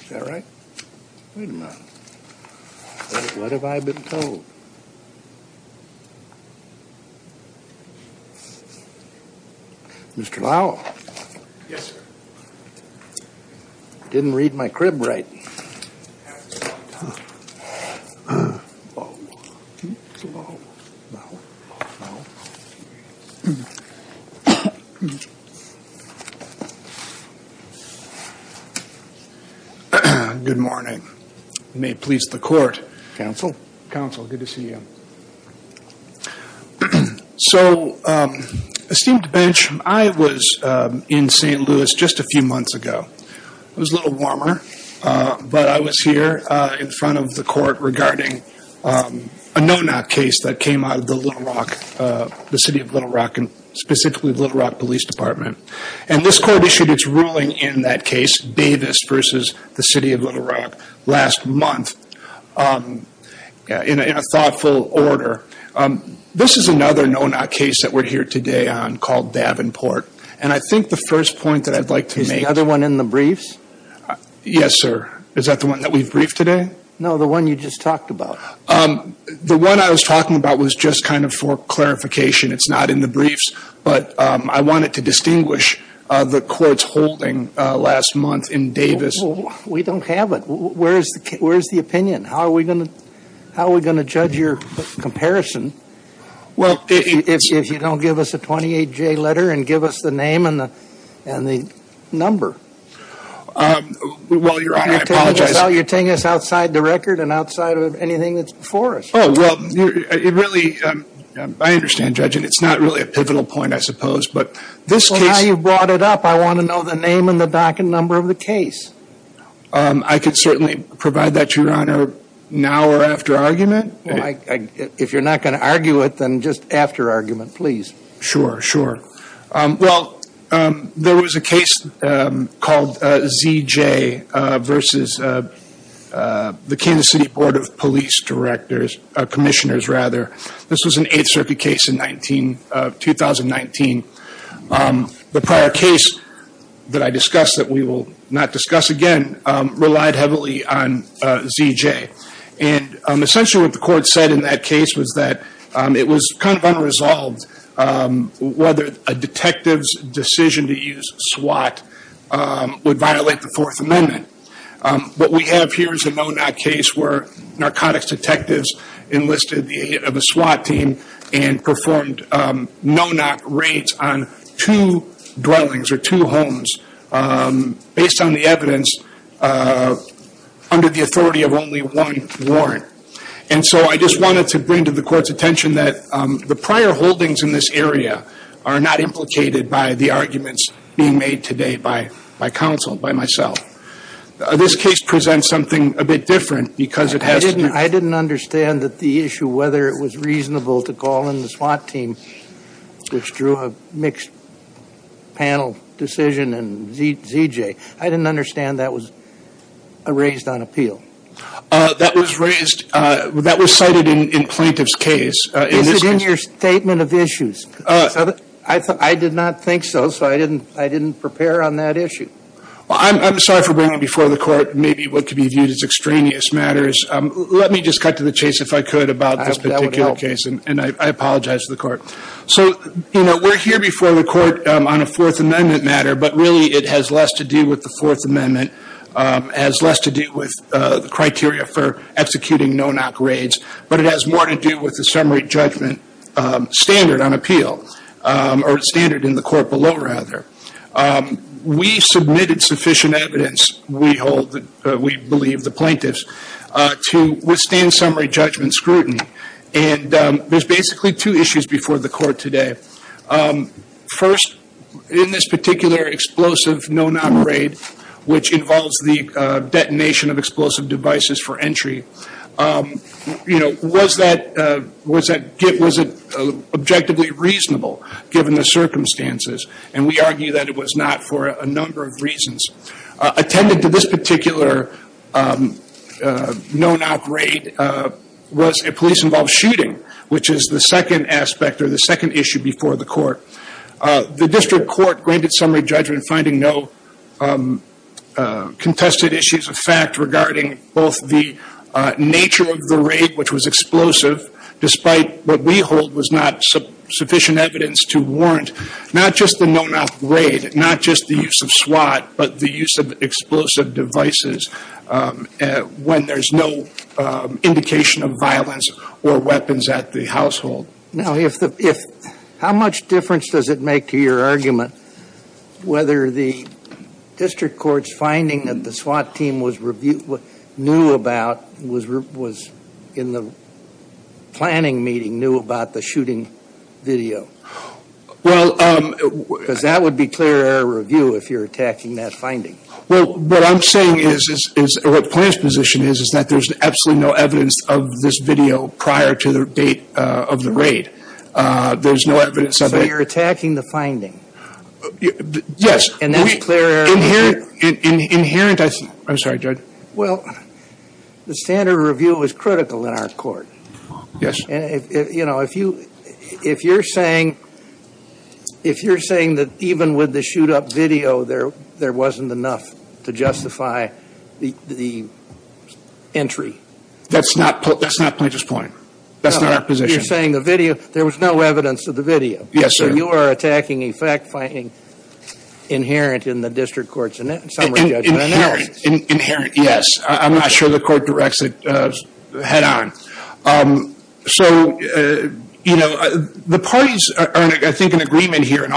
Is that right? Wait a minute. What have I been told? Mr. Lowell? Yes, sir. Didn't read my crib right. Lowell. Lowell. Lowell. Lowell. Good morning. May it please the court. Counsel. Counsel, good to see you. So, esteemed bench, I was in St. Louis just a few months ago. It was a little warmer, but I was here in front of the court regarding a no-knock case that came out of the Little Rock, the City of Little Rock, and specifically the Little Rock Police Department. And this court issued its ruling in that case, Davis v. The City of Little Rock, last month in a thoughtful order. This is another no-knock case that we're here today on called Davenport, and I think the first point that I'd like to make Is the other one in the briefs? Yes, sir. Is that the one that we've briefed today? No, the one you just talked about. The one I was talking about was just kind of for clarification. It's not in the briefs, but I wanted to distinguish the court's holding last month in Davis. We don't have it. Where's the opinion? How are we going to judge your comparison if you don't give us a 28-J letter and give us the name and the number? Well, Your Honor, I apologize. Well, you're taking us outside the record and outside of anything that's before us. Oh, well, it really – I understand, Judge, and it's not really a pivotal point, I suppose, but this case – Well, now you've brought it up. I want to know the name and the docket number of the case. I could certainly provide that to you, Your Honor, now or after argument. Well, if you're not going to argue it, then just after argument, please. Sure, sure. Well, there was a case called ZJ versus the Kansas City Board of Police Commissioners. This was an Eighth Circuit case in 2019. The prior case that I discussed that we will not discuss again relied heavily on ZJ. Essentially what the court said in that case was that it was kind of unresolved whether a detective's decision to use SWAT would violate the Fourth Amendment. What we have here is a no-knock case where narcotics detectives enlisted the aid of a SWAT team and performed no-knock raids on two dwellings or two homes based on the evidence under the authority of only one warrant. And so I just wanted to bring to the Court's attention that the prior holdings in this area are not implicated by the arguments being made today by counsel, by myself. This case presents something a bit different because it has – I didn't understand that the issue whether it was reasonable to call in the SWAT team, which drew a mixed panel decision and ZJ. I didn't understand that was raised on appeal. That was raised – that was cited in plaintiff's case. Is it in your statement of issues? I did not think so, so I didn't prepare on that issue. Well, I'm sorry for bringing before the Court maybe what could be viewed as extraneous matters. Let me just cut to the chase if I could about this particular case, and I apologize to the Court. So, you know, we're here before the Court on a Fourth Amendment matter, but really it has less to do with the Fourth Amendment, has less to do with the criteria for executing no-knock raids, but it has more to do with the summary judgment standard on appeal, or standard in the Court below, rather. We submitted sufficient evidence, we believe, the plaintiffs, to withstand summary judgment scrutiny, and there's basically two issues before the Court today. First, in this particular explosive no-knock raid, which involves the detonation of explosive devices for entry, you know, was it objectively reasonable given the circumstances? And we argue that it was not for a number of reasons. Attendant to this particular no-knock raid was a police-involved shooting, which is the second aspect or the second issue before the Court. The District Court granted summary judgment finding no contested issues of fact regarding both the nature of the raid, which was explosive, despite what we hold was not sufficient evidence to warrant, not just the no-knock raid, not just the use of SWAT, but the use of explosive devices when there's no indication of violence or weapons at the household. Now, how much difference does it make to your argument whether the District Court's finding that the SWAT team knew about, was in the planning meeting, knew about the shooting video? Because that would be clear error review if you're attacking that finding. Well, what I'm saying is, or what the plaintiff's position is, is that there's absolutely no evidence of this video prior to the date of the raid. There's no evidence of it. So you're attacking the finding? Yes. And that's clear error review? Inherent, I'm sorry, Judge. Well, the standard review is critical in our Court. Yes. You know, if you're saying that even with the shoot-up video, there wasn't enough to justify the entry. That's not the plaintiff's point. That's not our position. You're saying the video, there was no evidence of the video. Yes, sir. So you are attacking a fact-finding inherent in the District Court's summary judgment? Inherent, yes. I'm not sure the Court directs it head-on. So, you know, the parties are, I think, in agreement here on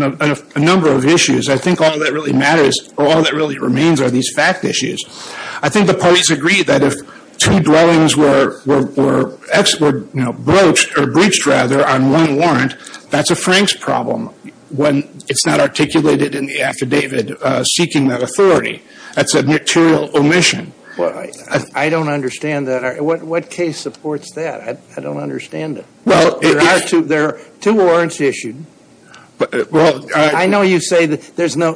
a number of issues. I think all that really matters or all that really remains are these fact issues. I think the parties agree that if two dwellings were broached or breached, rather, on one warrant, that's a Frank's problem when it's not articulated in the affidavit seeking that authority. That's a material omission. I don't understand that. What case supports that? I don't understand it. There are two warrants issued. I know you say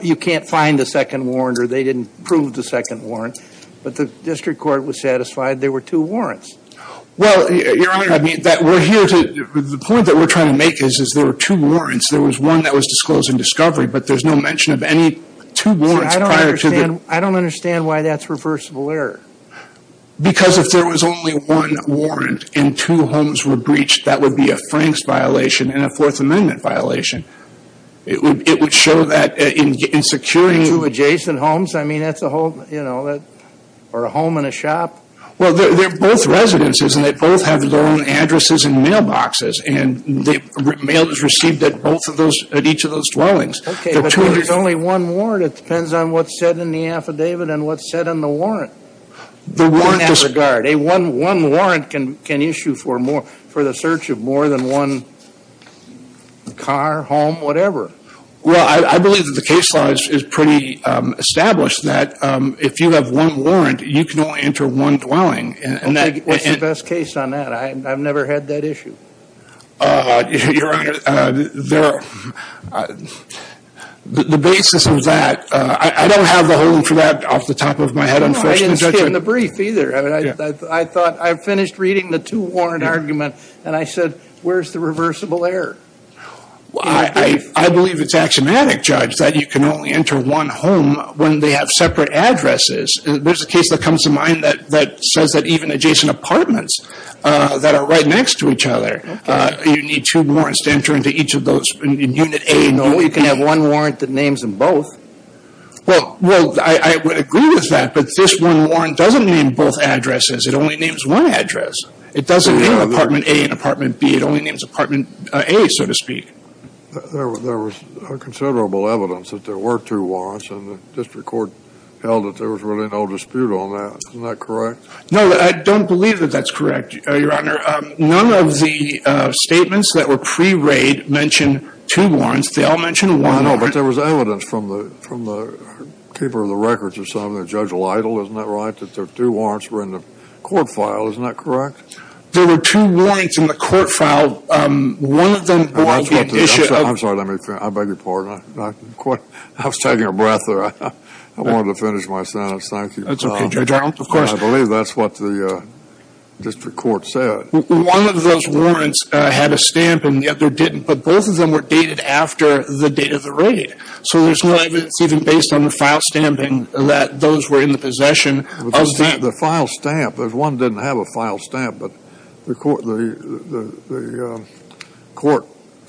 you can't find a second warrant or they didn't prove the second warrant, but the District Court was satisfied there were two warrants. Well, Your Honor, the point that we're trying to make is there were two warrants. There was one that was disclosed in discovery, but there's no mention of any two warrants prior to the – I don't understand why that's reversible error. Because if there was only one warrant and two homes were breached, that would be a Frank's violation and a Fourth Amendment violation. It would show that in securing – Two adjacent homes? I mean, that's a whole, you know, or a home and a shop. Well, they're both residences and they both have their own addresses and mailboxes, and mail is received at each of those dwellings. Okay, but there's only one warrant. It depends on what's said in the affidavit and what's said in the warrant. One at a guard. One warrant can issue for the search of more than one car, home, whatever. Well, I believe that the case law is pretty established that if you have one warrant, you can only enter one dwelling. What's the best case on that? I've never had that issue. Your Honor, the basis of that – I don't have the holding for that off the top of my head, unfortunately. No, I didn't see it in the brief either. I thought – I finished reading the two warrant argument, and I said, where's the reversible error? I believe it's axiomatic, Judge, that you can only enter one home when they have separate addresses. There's a case that comes to mind that says that even adjacent apartments that are right next to each other, you need two warrants to enter into each of those in Unit A. No, you can have one warrant that names them both. Well, I would agree with that, but this one warrant doesn't name both addresses. It only names one address. It doesn't name Apartment A and Apartment B. It only names Apartment A, so to speak. There was considerable evidence that there were two warrants, and the district court held that there was really no dispute on that. Isn't that correct? No, I don't believe that that's correct, Your Honor. None of the statements that were pre-raid mentioned two warrants. They all mentioned one warrant. I know, but there was evidence from the keeper of the records or something, Judge Lytle, isn't that right, that there were two warrants in the court file. Isn't that correct? There were two warrants in the court file. One of them – I'm sorry, let me finish. I beg your pardon. I was taking a breath there. I wanted to finish my sentence. Thank you. That's okay, Judge Arnold. Of course. I believe that's what the district court said. One of those warrants had a stamp and the other didn't, but both of them were dated after the date of the raid, so there's no evidence even based on the file stamping that those were in the possession of the – The file stamp – one didn't have a file stamp, but the court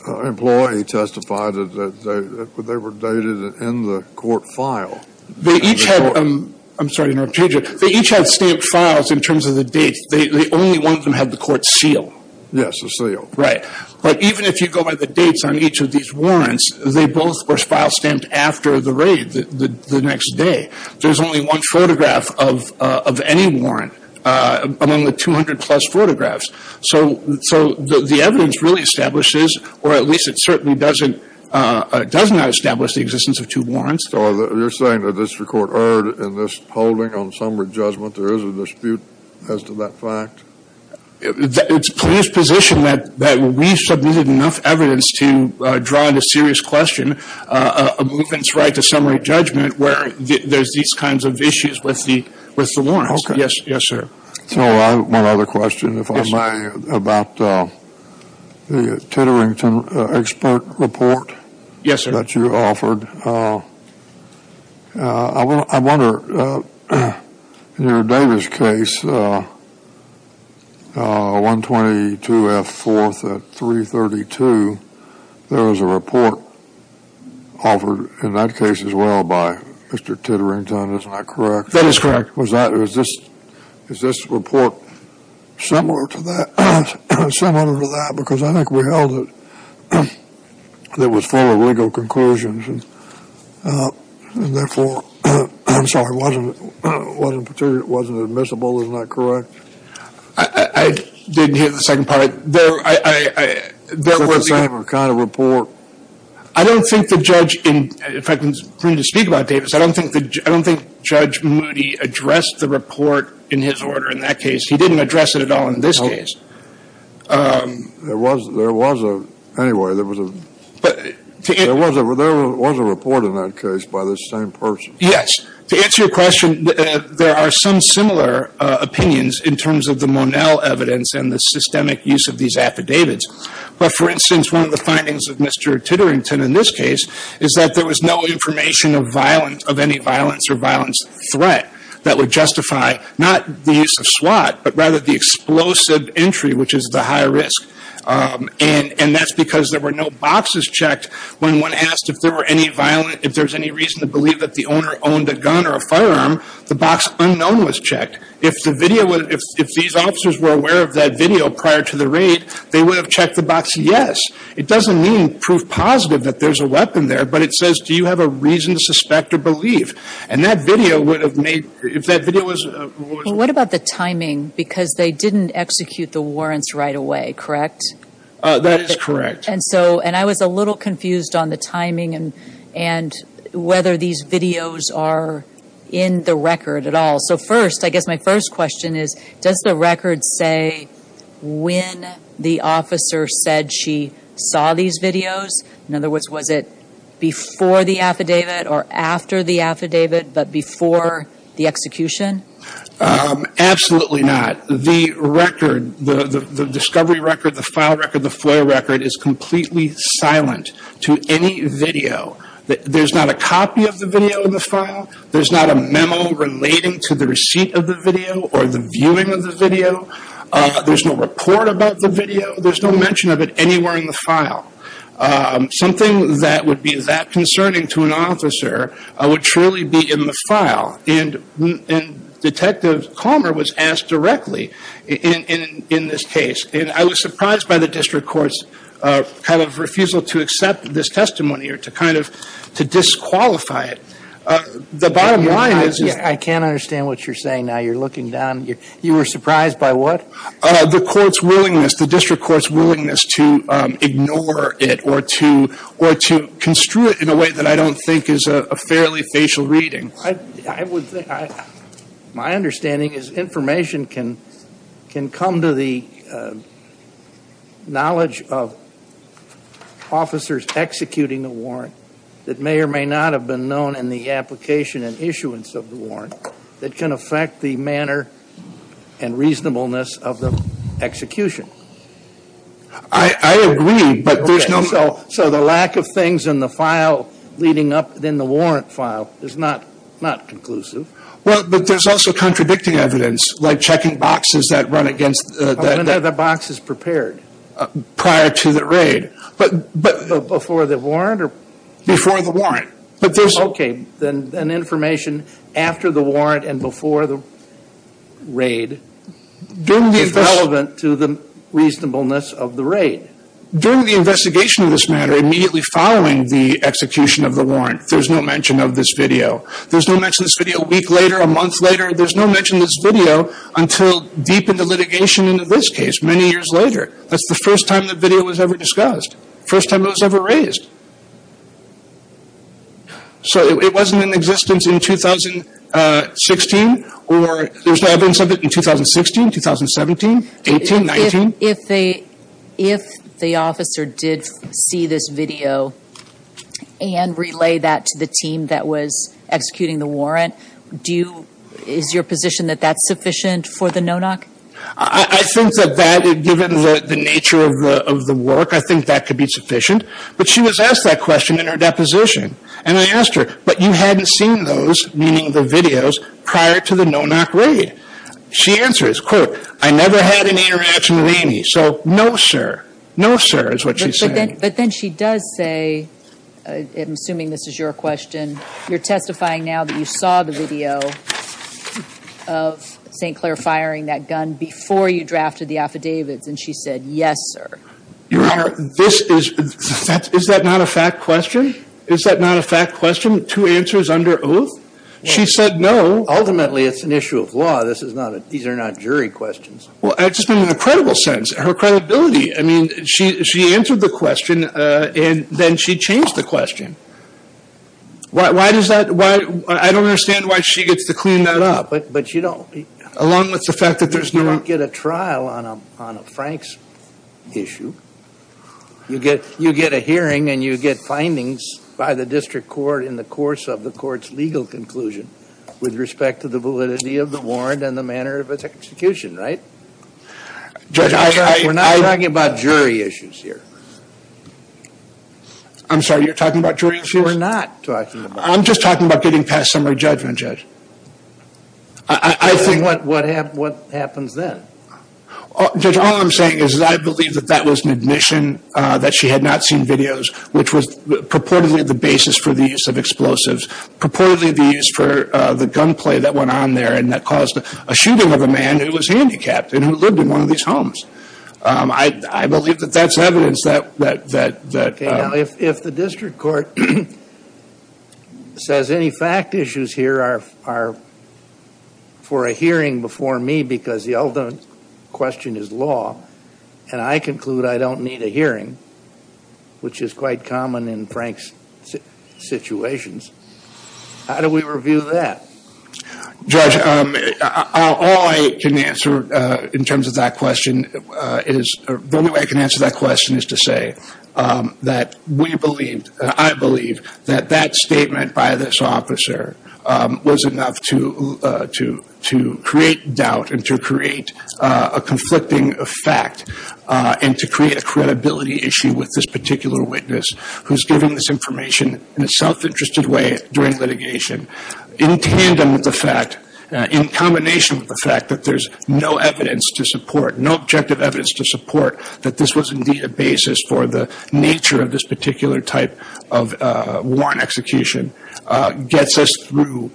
employee testified that they were dated in the court file. They each had – I'm sorry, I'm going to change it. They each had stamped files in terms of the dates. Only one of them had the court seal. Yes, the seal. Right. But even if you go by the dates on each of these warrants, they both were file stamped after the raid, the next day. There's only one photograph of any warrant among the 200-plus photographs. So the evidence really establishes, or at least it certainly does not establish the existence of two warrants. So you're saying the district court erred in this holding on summary judgment? There is a dispute as to that fact? It's police position that we submitted enough evidence to draw into serious question a movement's right to summary judgment where there's these kinds of issues with the warrants. Okay. Yes, sir. One other question, if I may, about the Titterington expert report that you offered. I wonder, in your Davis case, 122F4 at 332, there was a report offered in that case as well by Mr. Titterington. Isn't that correct? That is correct. Is this report similar to that? It's similar to that because I think we held it that it was full of legal conclusions and therefore wasn't admissible. Isn't that correct? I didn't hear the second part. It's the same kind of report. I don't think the judge, in fact, for me to speak about Davis, I don't think Judge Moody addressed the report in his order in that case. He didn't address it at all in this case. There was a report in that case by the same person. Yes. To answer your question, there are some similar opinions in terms of the Monell evidence and the systemic use of these affidavits. But, for instance, one of the findings of Mr. Titterington in this case is that there was no information of any violence or violence threat that would justify not the use of SWAT, but rather the explosive entry, which is the higher risk. And that's because there were no boxes checked when one asked if there was any reason to believe that the owner owned a gun or a firearm, the box unknown was checked. If these officers were aware of that video prior to the raid, they would have checked the box yes. It doesn't mean proof positive that there's a weapon there, but it says, do you have a reason to suspect or believe? And that video would have made, if that video was... What about the timing? Because they didn't execute the warrants right away, correct? That is correct. And so, and I was a little confused on the timing and whether these videos are in the record at all. So first, I guess my first question is, does the record say when the officer said she saw these videos? In other words, was it before the affidavit or after the affidavit, but before the execution? Absolutely not. The record, the discovery record, the file record, the FOIA record is completely silent to any video. There's not a copy of the video in the file. There's not a memo relating to the receipt of the video or the viewing of the video. There's no report about the video. There's no mention of it anywhere in the file. Something that would be that concerning to an officer would truly be in the file. And Detective Calmer was asked directly in this case, and I was surprised by the district court's kind of refusal to accept this testimony or to kind of to disqualify it. The bottom line is. I can't understand what you're saying now. You're looking down. You were surprised by what? The court's willingness, the district court's willingness to ignore it or to construe it in a way that I don't think is a fairly facial reading. My understanding is information can come to the knowledge of officers executing a warrant that may or may not have been known in the application and issuance of the warrant that can affect the manner and reasonableness of the execution. I agree, but there's no. So the lack of things in the file leading up then the warrant file is not not conclusive. Well, but there's also contradicting evidence like checking boxes that run against. The boxes prepared prior to the raid. But before the warrant or. Before the warrant. But there's. Okay. Then an information after the warrant and before the raid. During the. Is relevant to the reasonableness of the raid. During the investigation of this matter, immediately following the execution of the warrant. There's no mention of this video. There's no mention of this video a week later, a month later. There's no mention of this video until deep into litigation. And in this case, many years later, that's the first time the video was ever discussed. First time it was ever raised. So it wasn't in existence in 2016 or there's no evidence of it in 2016, 2017, 18, 19. If the officer did see this video. And relay that to the team that was executing the warrant. Do you. Is your position that that's sufficient for the no knock. I think that that. Given the nature of the work. I think that could be sufficient. But she was asked that question in her deposition. And I asked her. But you hadn't seen those. Meaning the videos. Prior to the no knock raid. She answers, quote, I never had any interaction with any. So no, sir. No, sir, is what she said. But then she does say. I'm assuming this is your question. You're testifying now that you saw the video. Of St. Claire firing that gun before you drafted the affidavits. And she said, yes, sir. Your Honor, this is. Is that not a fact question? Is that not a fact question? Two answers under oath. She said no. Ultimately, it's an issue of law. This is not a. These are not jury questions. Well, I just mean, in a credible sense. Her credibility. I mean, she answered the question. And then she changed the question. Why does that. Why. I don't understand why she gets to clean that up. But you don't. Along with the fact that there's no. Get a trial on a on a Frank's. Issue. You get you get a hearing and you get findings. By the district court in the course of the court's legal conclusion. With respect to the validity of the warrant and the manner of execution. Right. Judge. We're not talking about jury issues here. I'm sorry. You're talking about jury issues. We're not talking about. I'm just talking about getting past summary judgment. Judge. I think. What happened. What happens then. All I'm saying is that I believe that that was an admission. That she had not seen videos. Which was purportedly the basis for the use of explosives. Purportedly the use for the gunplay that went on there. And that caused a shooting of a man who was handicapped. And who lived in one of these homes. I believe that that's evidence that. If the district court. Says any fact issues here are. For a hearing before me. Because the ultimate question is law. And I conclude I don't need a hearing. Which is quite common in Frank's. Situations. How do we review that. Judge. All I can answer. In terms of that question. Is the only way I can answer that question is to say. That we believed. I believe that that statement by this officer. Was enough to. To create doubt and to create. A conflicting effect. And to create a credibility issue with this particular witness. Who's giving this information in a self-interested way during litigation. In tandem with the fact. In combination with the fact that there's no evidence to support. No objective evidence to support. That this was indeed a basis for the nature of this particular type. Of warrant execution. Gets us through.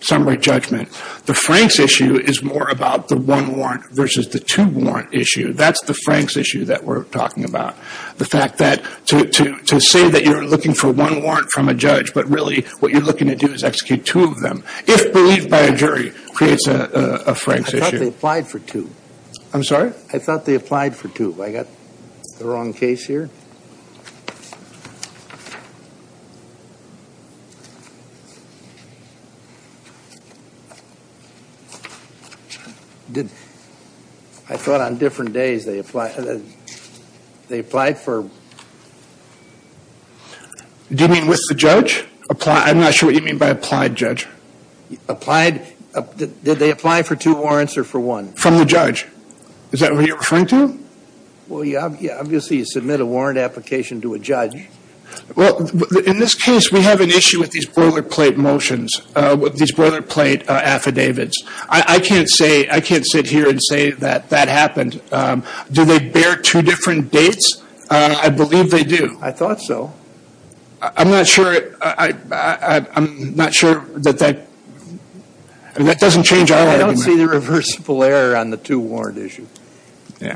Some right judgment. The Frank's issue is more about the one warrant. Versus the two warrant issue. That's the Frank's issue that we're talking about. The fact that. To say that you're looking for one warrant from a judge. But really what you're looking to do is execute two of them. If believed by a jury. Creates a Frank's issue. I thought they applied for two. I'm sorry. I thought they applied for two. I got. The wrong case here. Did. I thought on different days they applied. They applied for. Do you mean with the judge? I'm not sure what you mean by applied judge. Applied. Did they apply for two warrants or for one? From the judge. Is that what you're referring to? Well, yeah. Obviously, you submit a warrant application to a judge. Well, in this case, we have an issue with these boilerplate motions. With these boilerplate affidavits. I can't say. I can't sit here and say that that happened. Do they bear two different dates? I believe they do. I thought so. I'm not sure. I'm not sure that that. That doesn't change. I don't see the reversible error on the two warrant issue.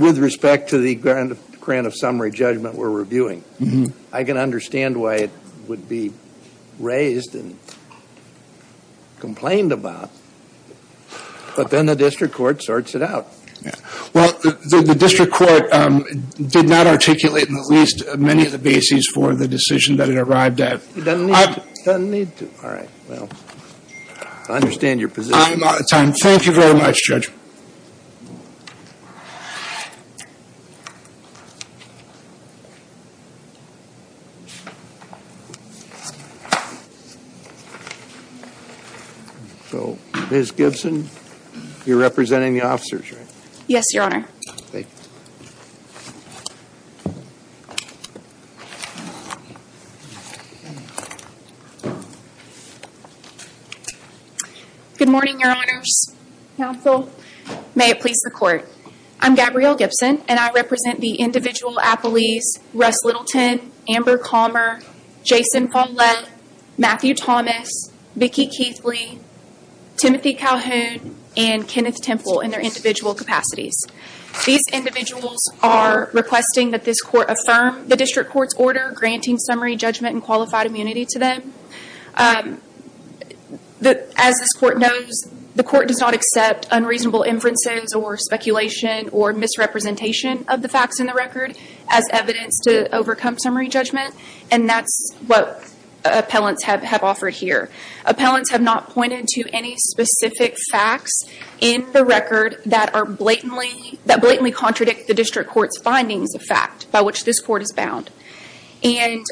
With respect to the grant of grant of summary judgment. We're reviewing. I can understand why it would be. Raised and. Complained about. But then the district court sorts it out. Yeah. Well, the district court did not articulate in the least many of the bases for the decision that it arrived at. It doesn't need to. It doesn't need to. All right. Well. I understand your position. I'm out of time. Thank you very much, Judge. So, Ms. Gibson. You're representing the officers, right? Yes, Your Honor. Thank you. Good morning, Your Honors. Counsel. May it please the court. I'm Gabrielle Gibson. And I represent the individual appellees. Russ Littleton. Amber Calmer. Jason Follett. Matthew Thomas. Vicki Keithley. Timothy Calhoun. And Kenneth Temple in their individual capacities. These individuals are requesting that this court affirm the district court's order granting summary judgment and qualified immunity to them. As this court knows, the court does not accept unreasonable inferences or speculation or misrepresentation of the facts in the record as evidence to overcome summary judgment. And that's what appellants have offered here. Appellants have not pointed to any specific facts in the record that blatantly contradict the district court's findings of fact by which this court is bound. And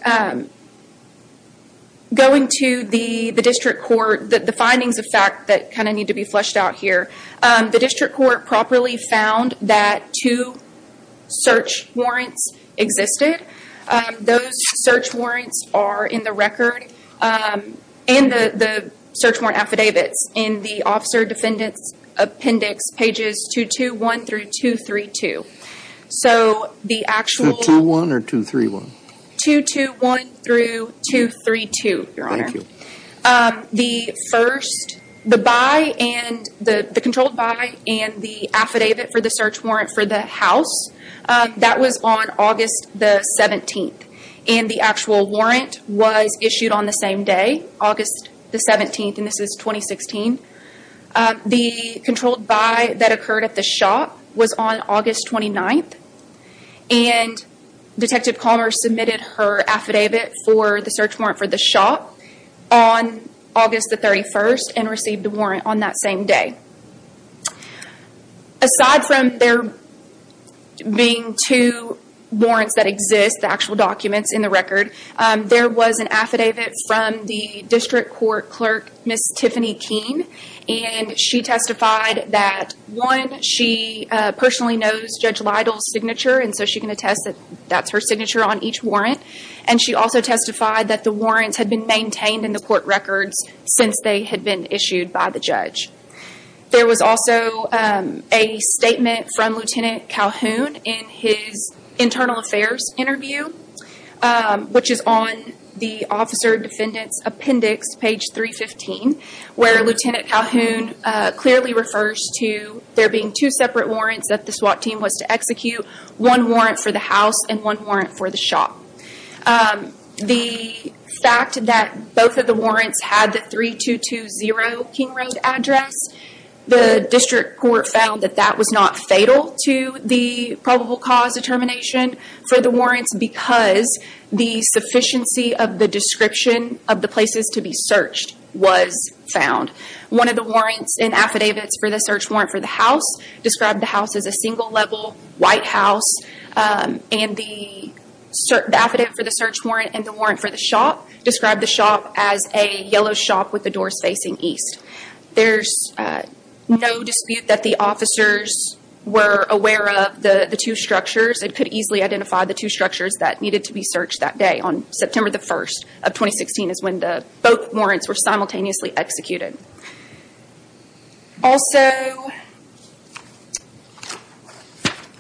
going to the district court, the findings of fact that kind of need to be fleshed out here, the district court properly found that two search warrants existed. Those search warrants are in the record and the search warrant affidavits in the officer defendant's appendix pages 221 through 232. So the actual... 221 or 231? 221 through 232, your honor. Thank you. The first... The by and... The controlled by and the affidavit for the search warrant for the house, that was on August the 17th. And the actual warrant was issued on the same day, August the 17th, and this is 2016. The controlled by that occurred at the shop was on August 29th. And Detective Calmer submitted her affidavit for the search warrant for the shop on August the 31st and received the warrant on that same day. Aside from there being two warrants that exist, the actual documents in the record, there was an affidavit from the district court clerk, Miss Tiffany Keene. And she testified that, one, she personally knows Judge Lytle's signature and so she can attest that that's her signature on each warrant. And she also testified that the warrants had been maintained in the court records since they had been issued by the judge. There was also a statement from Lieutenant Calhoun in his internal affairs interview, which is on the officer defendant's appendix, page 315. Where Lieutenant Calhoun clearly refers to there being two separate warrants that the SWAT team was to execute. One warrant for the house and one warrant for the shop. The fact that both of the warrants had the 3220 King Road address, the district court found that that was not fatal to the probable cause determination for the warrants. Because the sufficiency of the description of the places to be searched was found. One of the warrants and affidavits for the search warrant for the house described the house as a single level white house. And the affidavit for the search warrant and the warrant for the shop described the shop as a yellow shop with the doors facing east. There's no dispute that the officers were aware of the two structures. They could easily identify the two structures that needed to be searched that day. On September the 1st of 2016 is when both warrants were simultaneously executed. Also,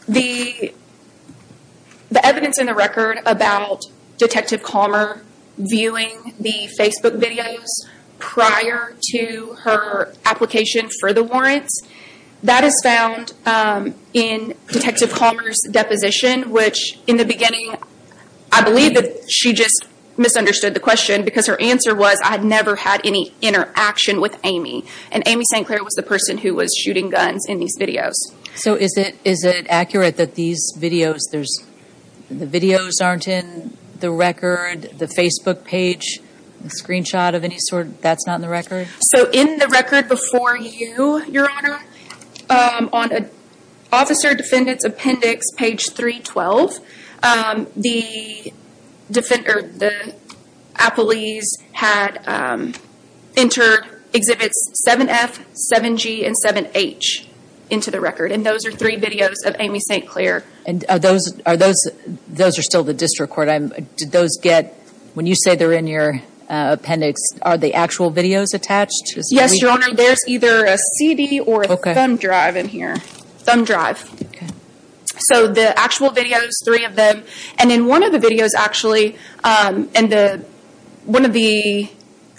the evidence in the record about Detective Calmer viewing the Facebook videos prior to her application for the warrants, that is found in Detective Calmer's deposition, which in the beginning, I believe that she just misunderstood the question because her answer was, I had never had any interaction with Amy. And Amy St. Clair was the person who was shooting guns in these videos. So is it accurate that these videos, the videos aren't in the record, the Facebook page, the screenshot of any sort, that's not in the record? So in the record before you, Your Honor, on Officer Defendant's Appendix, page 312, the appellees had entered Exhibits 7F, 7G, and 7H into the record. And those are three videos of Amy St. Clair. And are those, those are still the district court? Did those get, when you say they're in your appendix, are the actual videos attached? Yes, Your Honor. There's either a CD or a thumb drive in here. Thumb drive. Okay. So the actual videos, three of them. And in one of the videos, actually, and the, one of the,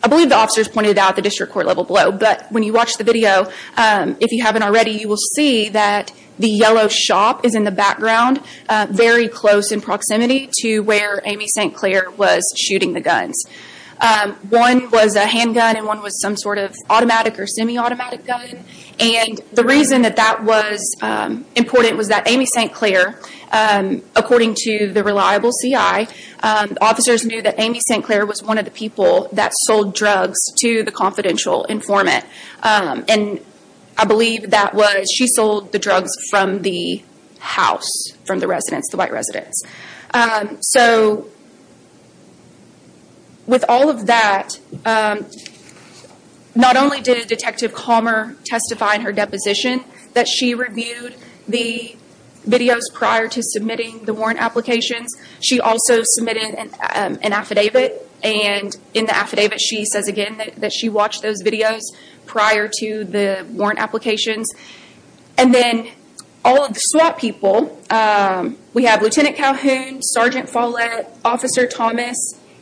I believe the officers pointed out the district court level below, but when you watch the video, if you haven't already, you will see that the yellow shop is in the background, very close in proximity to where Amy St. Clair was shooting the guns. One was a handgun and one was some sort of automatic or semi-automatic gun. And the reason that that was important was that Amy St. Clair, according to the reliable CI, officers knew that Amy St. Clair was one of the people that sold drugs to the confidential informant. And I believe that was, she sold the drugs from the house, from the residence, the white residence. So with all of that, not only did Detective Calmer testify in her deposition that she reviewed the videos prior to submitting the warrant applications, she also submitted an affidavit. And in the affidavit, she says again that she watched those videos prior to the warrant applications. And then all of the SWAT people, we have Lieutenant Calhoun, Sergeant Follett, Officer Thomas,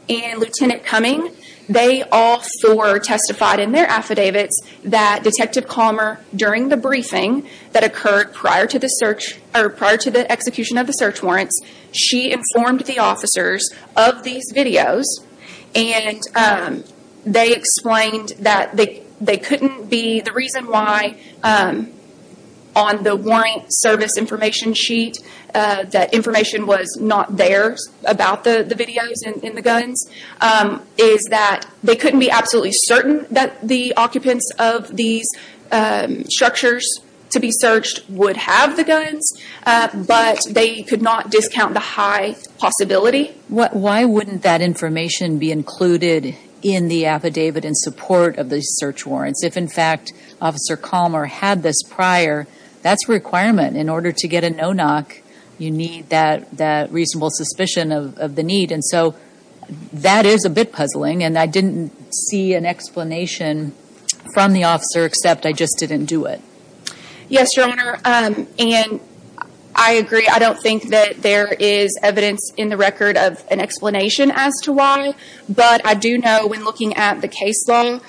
and Lieutenant Cumming, they all four testified in their affidavits that Detective Calmer, during the briefing that occurred prior to the search, or prior to the execution of the search warrants, she informed the officers of these videos. And they explained that they couldn't be, the reason why on the warrant service information sheet, that information was not there about the videos and the guns, is that they couldn't be absolutely certain that the occupants of these structures to be searched would have the guns, but they could not discount the high possibility. Why wouldn't that information be included in the affidavit in support of the search warrants? If, in fact, Officer Calmer had this prior, that's a requirement. In order to get a no-knock, you need that reasonable suspicion of the need. And so that is a bit puzzling, and I didn't see an explanation from the officer, except I just didn't do it. Yes, Your Honor, and I agree. I don't think that there is evidence in the record of an explanation as to why, but I do know when looking at the case law,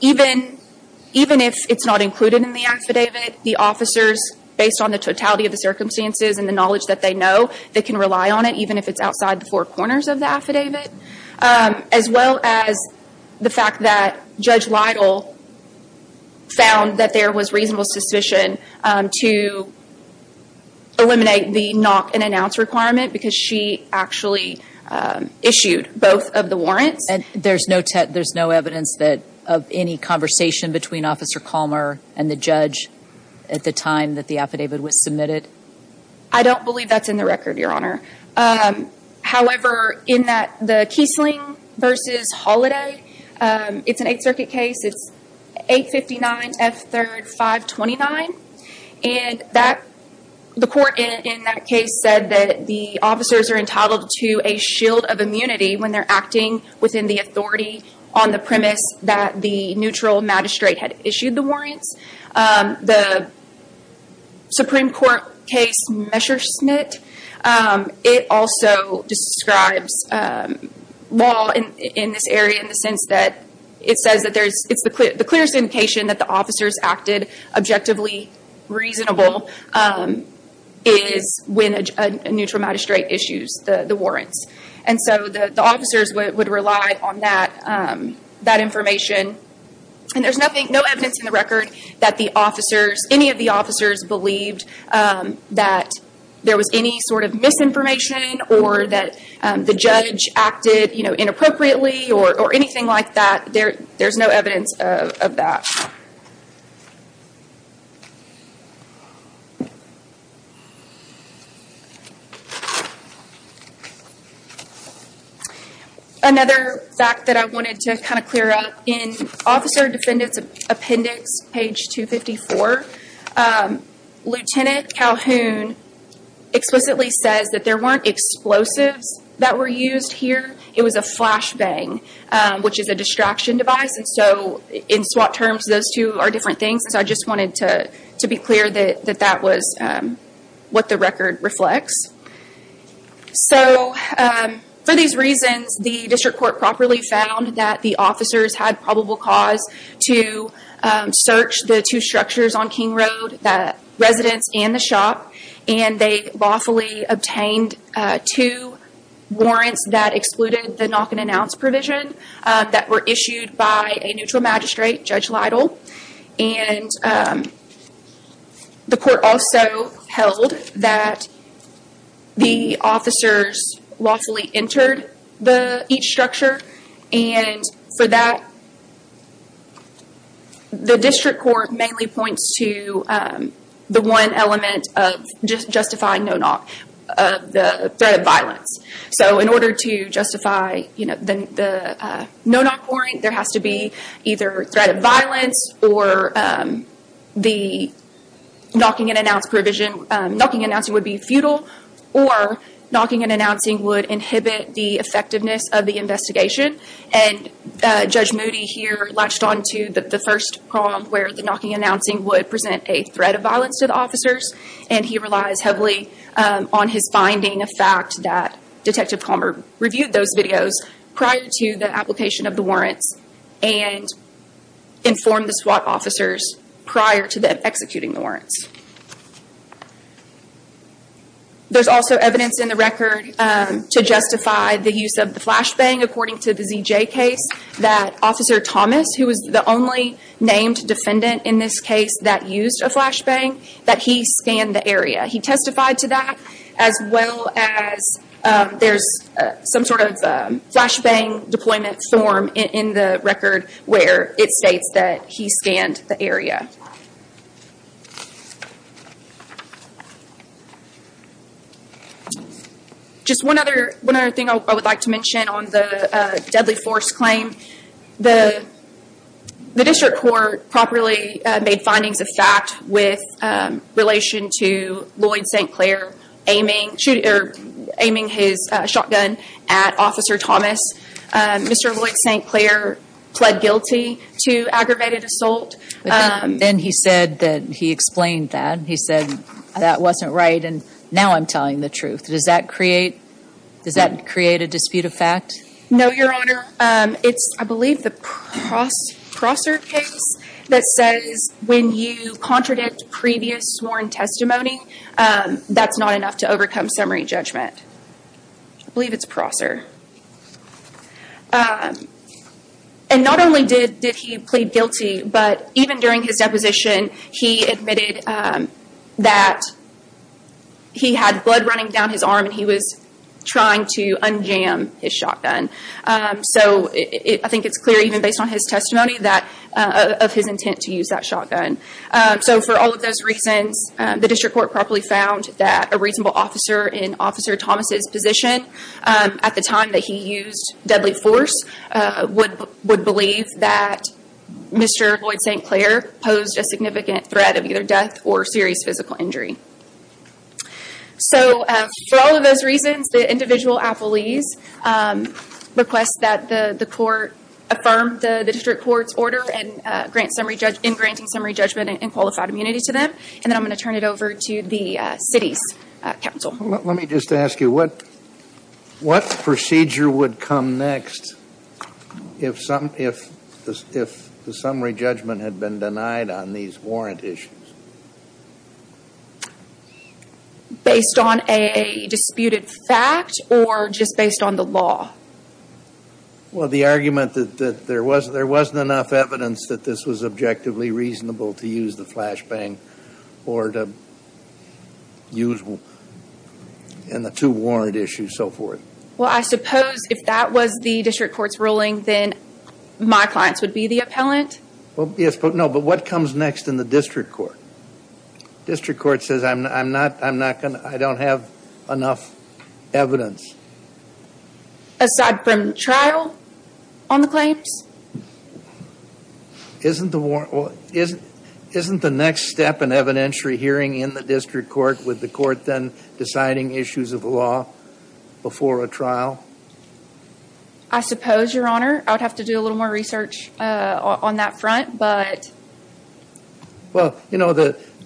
even if it's not included in the affidavit, the officers, based on the totality of the circumstances and the knowledge that they know, they can rely on it, even if it's outside the four corners of the affidavit. As well as the fact that Judge Lytle found that there was reasonable suspicion to eliminate the knock-and-announce requirement because she actually issued both of the warrants. And there's no evidence of any conversation between Officer Calmer and the judge at the time that the affidavit was submitted? I don't believe that's in the record, Your Honor. However, in the Kiesling v. Holliday, it's an Eighth Circuit case. It's 859 F. 3rd 529, and the court in that case said that the officers are entitled to a shield of immunity when they're acting within the authority on the premise that the neutral magistrate had issued the warrants. The Supreme Court case Messerschmitt, it also describes law in this area in the sense that it says that the clearest indication that the officers acted objectively reasonable is when a neutral magistrate issues the warrants. And so the officers would rely on that information. And there's no evidence in the record that any of the officers believed that there was any sort of misinformation or that the judge acted inappropriately or anything like that. There's no evidence of that. Another fact that I wanted to kind of clear up, in Officer Defendant's Appendix, page 254, Lieutenant Calhoun explicitly says that there weren't explosives that were used here. It was a flashbang, which is a distraction device. And so in SWAT terms, those two are different things. And so I just wanted to be clear that that was what the record reflects. So for these reasons, the district court properly found that the officers had probable cause to search the two structures on King Road, the residence and the shop, and they lawfully obtained two warrants that excluded the knock-and-announce provision that were issued by a neutral magistrate, Judge Lytle. And the court also held that the officers lawfully entered each structure. And for that, the district court mainly points to the one element of justifying the threat of violence. So in order to justify the no-knock warrant, there has to be either threat of violence or the knock-and-announce provision. Knock-and-announcing would be futile, or knock-and-announcing would inhibit the effectiveness of the investigation. And Judge Moody here latched onto the first problem, where the knock-and-announcing would present a threat of violence to the officers. And he relies heavily on his finding of fact that Detective Palmer reviewed those videos prior to the application of the warrants and informed the SWAT officers prior to them executing the warrants. There's also evidence in the record to justify the use of the flashbang. According to the ZJ case, that Officer Thomas, who was the only named defendant in this case that used a flashbang, that he scanned the area. He testified to that, as well as there's some sort of flashbang deployment form in the record where it states that he scanned the area. Just one other thing I would like to mention on the deadly force claim. The district court properly made findings of fact with relation to Lloyd St. Clair aiming his shotgun at Officer Thomas. Mr. Lloyd St. Clair pled guilty to aggravated assault. Then he said that he explained that. He said that wasn't right and now I'm telling the truth. Does that create a dispute of fact? No, Your Honor. It's, I believe, the Prosser case that says when you contradict previous sworn testimony, that's not enough to overcome summary judgment. I believe it's Prosser. Not only did he plead guilty, but even during his deposition, he admitted that he had blood running down his arm and he was trying to unjam his shotgun. I think it's clear even based on his testimony of his intent to use that shotgun. For all of those reasons, the district court properly found that a reasonable officer in Officer Thomas' position at the time that he used deadly force would believe that Mr. Lloyd St. Clair posed a significant threat of either death or serious physical injury. So for all of those reasons, the individual appellees request that the court affirm the district court's order in granting summary judgment and qualified immunity to them. And then I'm going to turn it over to the city's counsel. Let me just ask you, what procedure would come next if the summary judgment had been denied on these warrant issues? Based on a disputed fact or just based on the law? Well, the argument that there wasn't enough evidence that this was objectively reasonable to use the flashbang or to use in the two warrant issues, so forth. Well, I suppose if that was the district court's ruling, then my clients would be the appellant? Yes, but no. But what comes next in the district court? District court says, I don't have enough evidence. Aside from trial on the claims? Isn't the next step an evidentiary hearing in the district court with the court then deciding issues of law before a trial? I suppose, Your Honor. I would have to do a little more research on that front, but... Well, you know,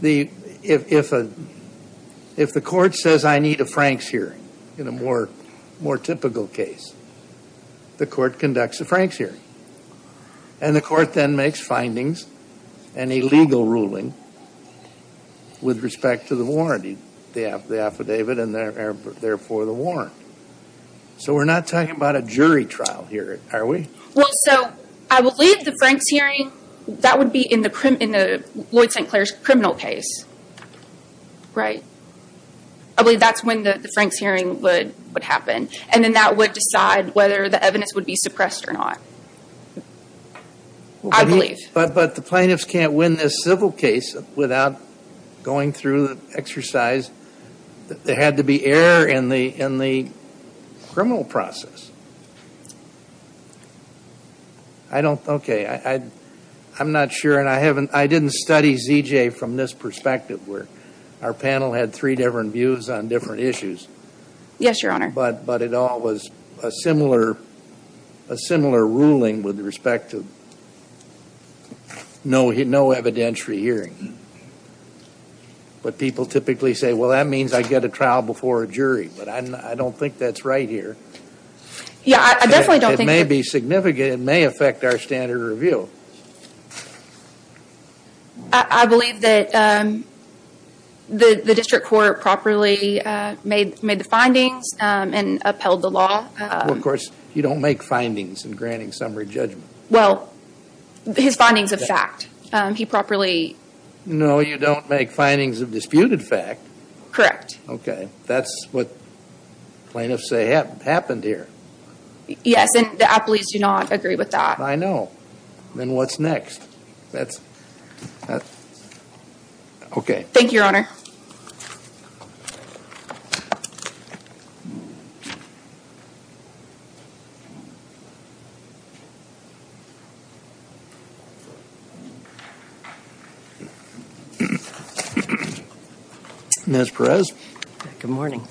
if the court says, I need a Frank's hearing in a more typical case, the court conducts a Frank's hearing. And the court then makes findings and a legal ruling with respect to the warrant, the affidavit and therefore the warrant. So we're not talking about a jury trial here, are we? Well, so I believe the Frank's hearing, that would be in the Lloyd St. Clair's criminal case. Right. I believe that's when the Frank's hearing would happen. And then that would decide whether the evidence would be suppressed or not. I believe. But the plaintiffs can't win this civil case without going through the exercise. There had to be error in the criminal process. I don't... Okay. I'm not sure and I haven't... I didn't study ZJ from this perspective where our panel had three different views on different issues. Yes, Your Honor. But it all was a similar ruling with respect to no evidentiary hearing. But people typically say, well, that means I get a trial before a jury. But I don't think that's right here. Yeah, I definitely don't think... It may be significant. It may affect our standard of review. I believe that the district court properly made the findings and upheld the law. Well, of course, you don't make findings in granting summary judgment. Well, his findings of fact. He properly... No, you don't make findings of disputed fact. Correct. Okay. That's what plaintiffs say happened here. Yes, and the appellees do not agree with that. I know. Then what's next? That's... Okay. Thank you, Your Honor. Ms. Perez. Good morning.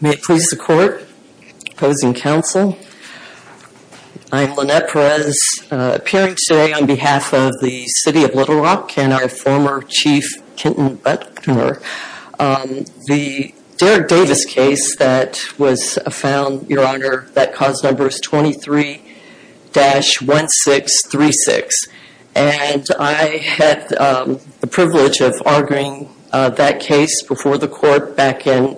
May it please the court. Opposing counsel. I'm Lynette Perez, appearing today on behalf of the city of Little Rock and our former chief, Kenton Butler. The Derrick Davis case that was found, Your Honor, that cause number is 23-1636. And I had the privilege of arguing that case before the court back in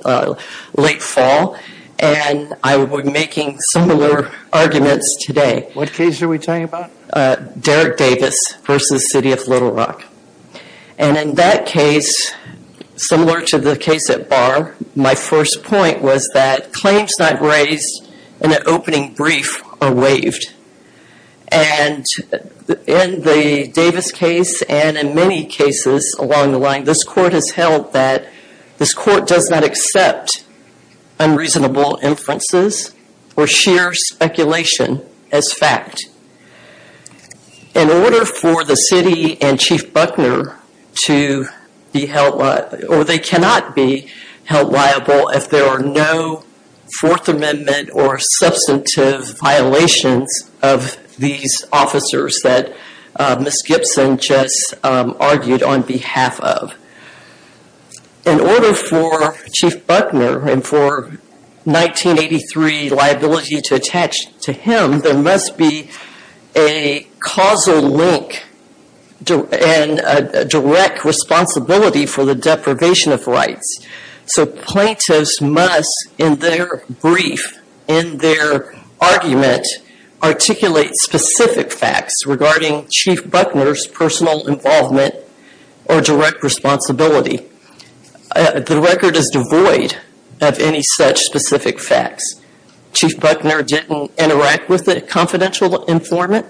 late fall. And I would be making similar arguments today. What case are we talking about? Derrick Davis versus city of Little Rock. And in that case, similar to the case at Barr, my first point was that claims not raised in an opening brief are waived. And in the Davis case and in many cases along the line, this court has held that this court does not accept unreasonable inferences or sheer speculation as fact. In order for the city and Chief Buckner to be held... Or they cannot be held liable if there are no Fourth Amendment or substantive violations of these officers that Ms. Gibson just argued on behalf of. In order for Chief Buckner and for 1983 liability to attach to him, there must be a causal link and a direct responsibility for the deprivation of rights. So plaintiffs must, in their brief, in their argument, articulate specific facts regarding Chief Buckner's personal involvement or direct responsibility. The record is devoid of any such specific facts. Chief Buckner didn't interact with the confidential informant.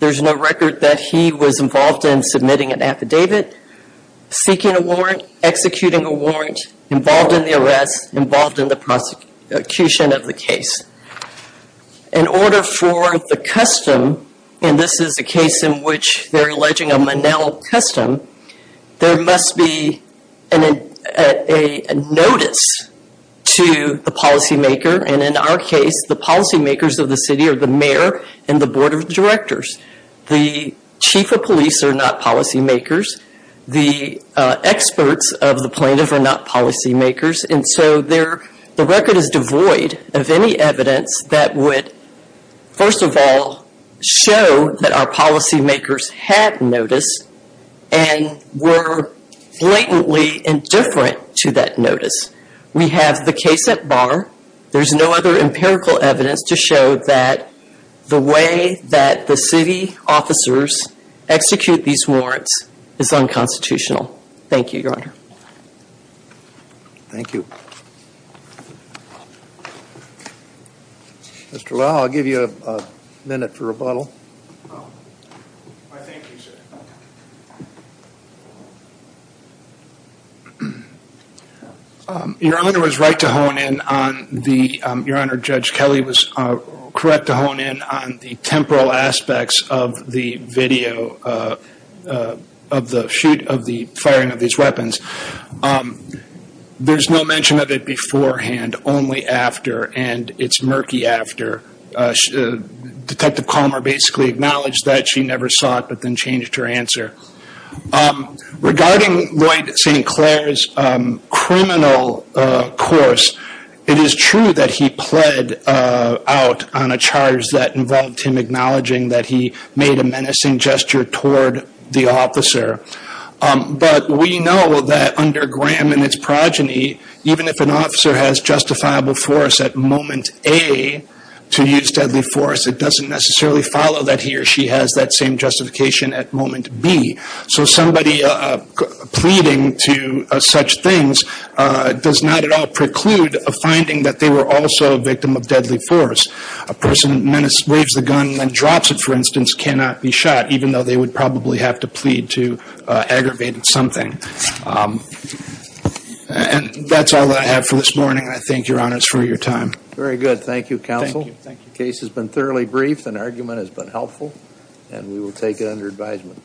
There's no record that he was involved in submitting an affidavit. Seeking a warrant. Executing a warrant. Involved in the arrest. Involved in the prosecution of the case. In order for the custom, and this is a case in which they're alleging a Monell custom, there must be a notice to the policy maker. And in our case, the policy makers of the city are the mayor and the board of directors. The chief of police are not policy makers. The experts of the plaintiffs are not policy makers. And so the record is devoid of any evidence that would, first of all, show that our policy makers had notice and were blatantly indifferent to that notice. We have the case at bar. There's no other empirical evidence to show that the way that the city officers execute these warrants is unconstitutional. Thank you, Your Honor. Thank you. Mr. Lowe, I'll give you a minute for rebuttal. Why, thank you, sir. Your Honor was right to hone in on the, Your Honor, Judge Kelly was correct to hone in on the temporal aspects of the video of the shoot of the firing of these weapons. There's no mention of it beforehand, only after, and it's murky after. Detective Calmer basically acknowledged that she never saw it, but then changed her answer. Regarding Lloyd St. Clair's criminal course, it is true that he pled out on a charge that involved him acknowledging that he made a menacing gesture toward the officer. But we know that under Graham and its progeny, even if an officer has justifiable force at moment A to use deadly force, it doesn't necessarily follow that he or she has that same justification at moment B. So somebody pleading to such things does not at all preclude a finding that they were also a victim of deadly force. A person who waves the gun and drops it, for instance, cannot be shot, even though they would probably have to plead to aggravate something. And that's all I have for this morning. I thank Your Honors for your time. Very good. Thank you, Counsel. The case has been thoroughly briefed. An argument has been helpful, and we will take it under advisement.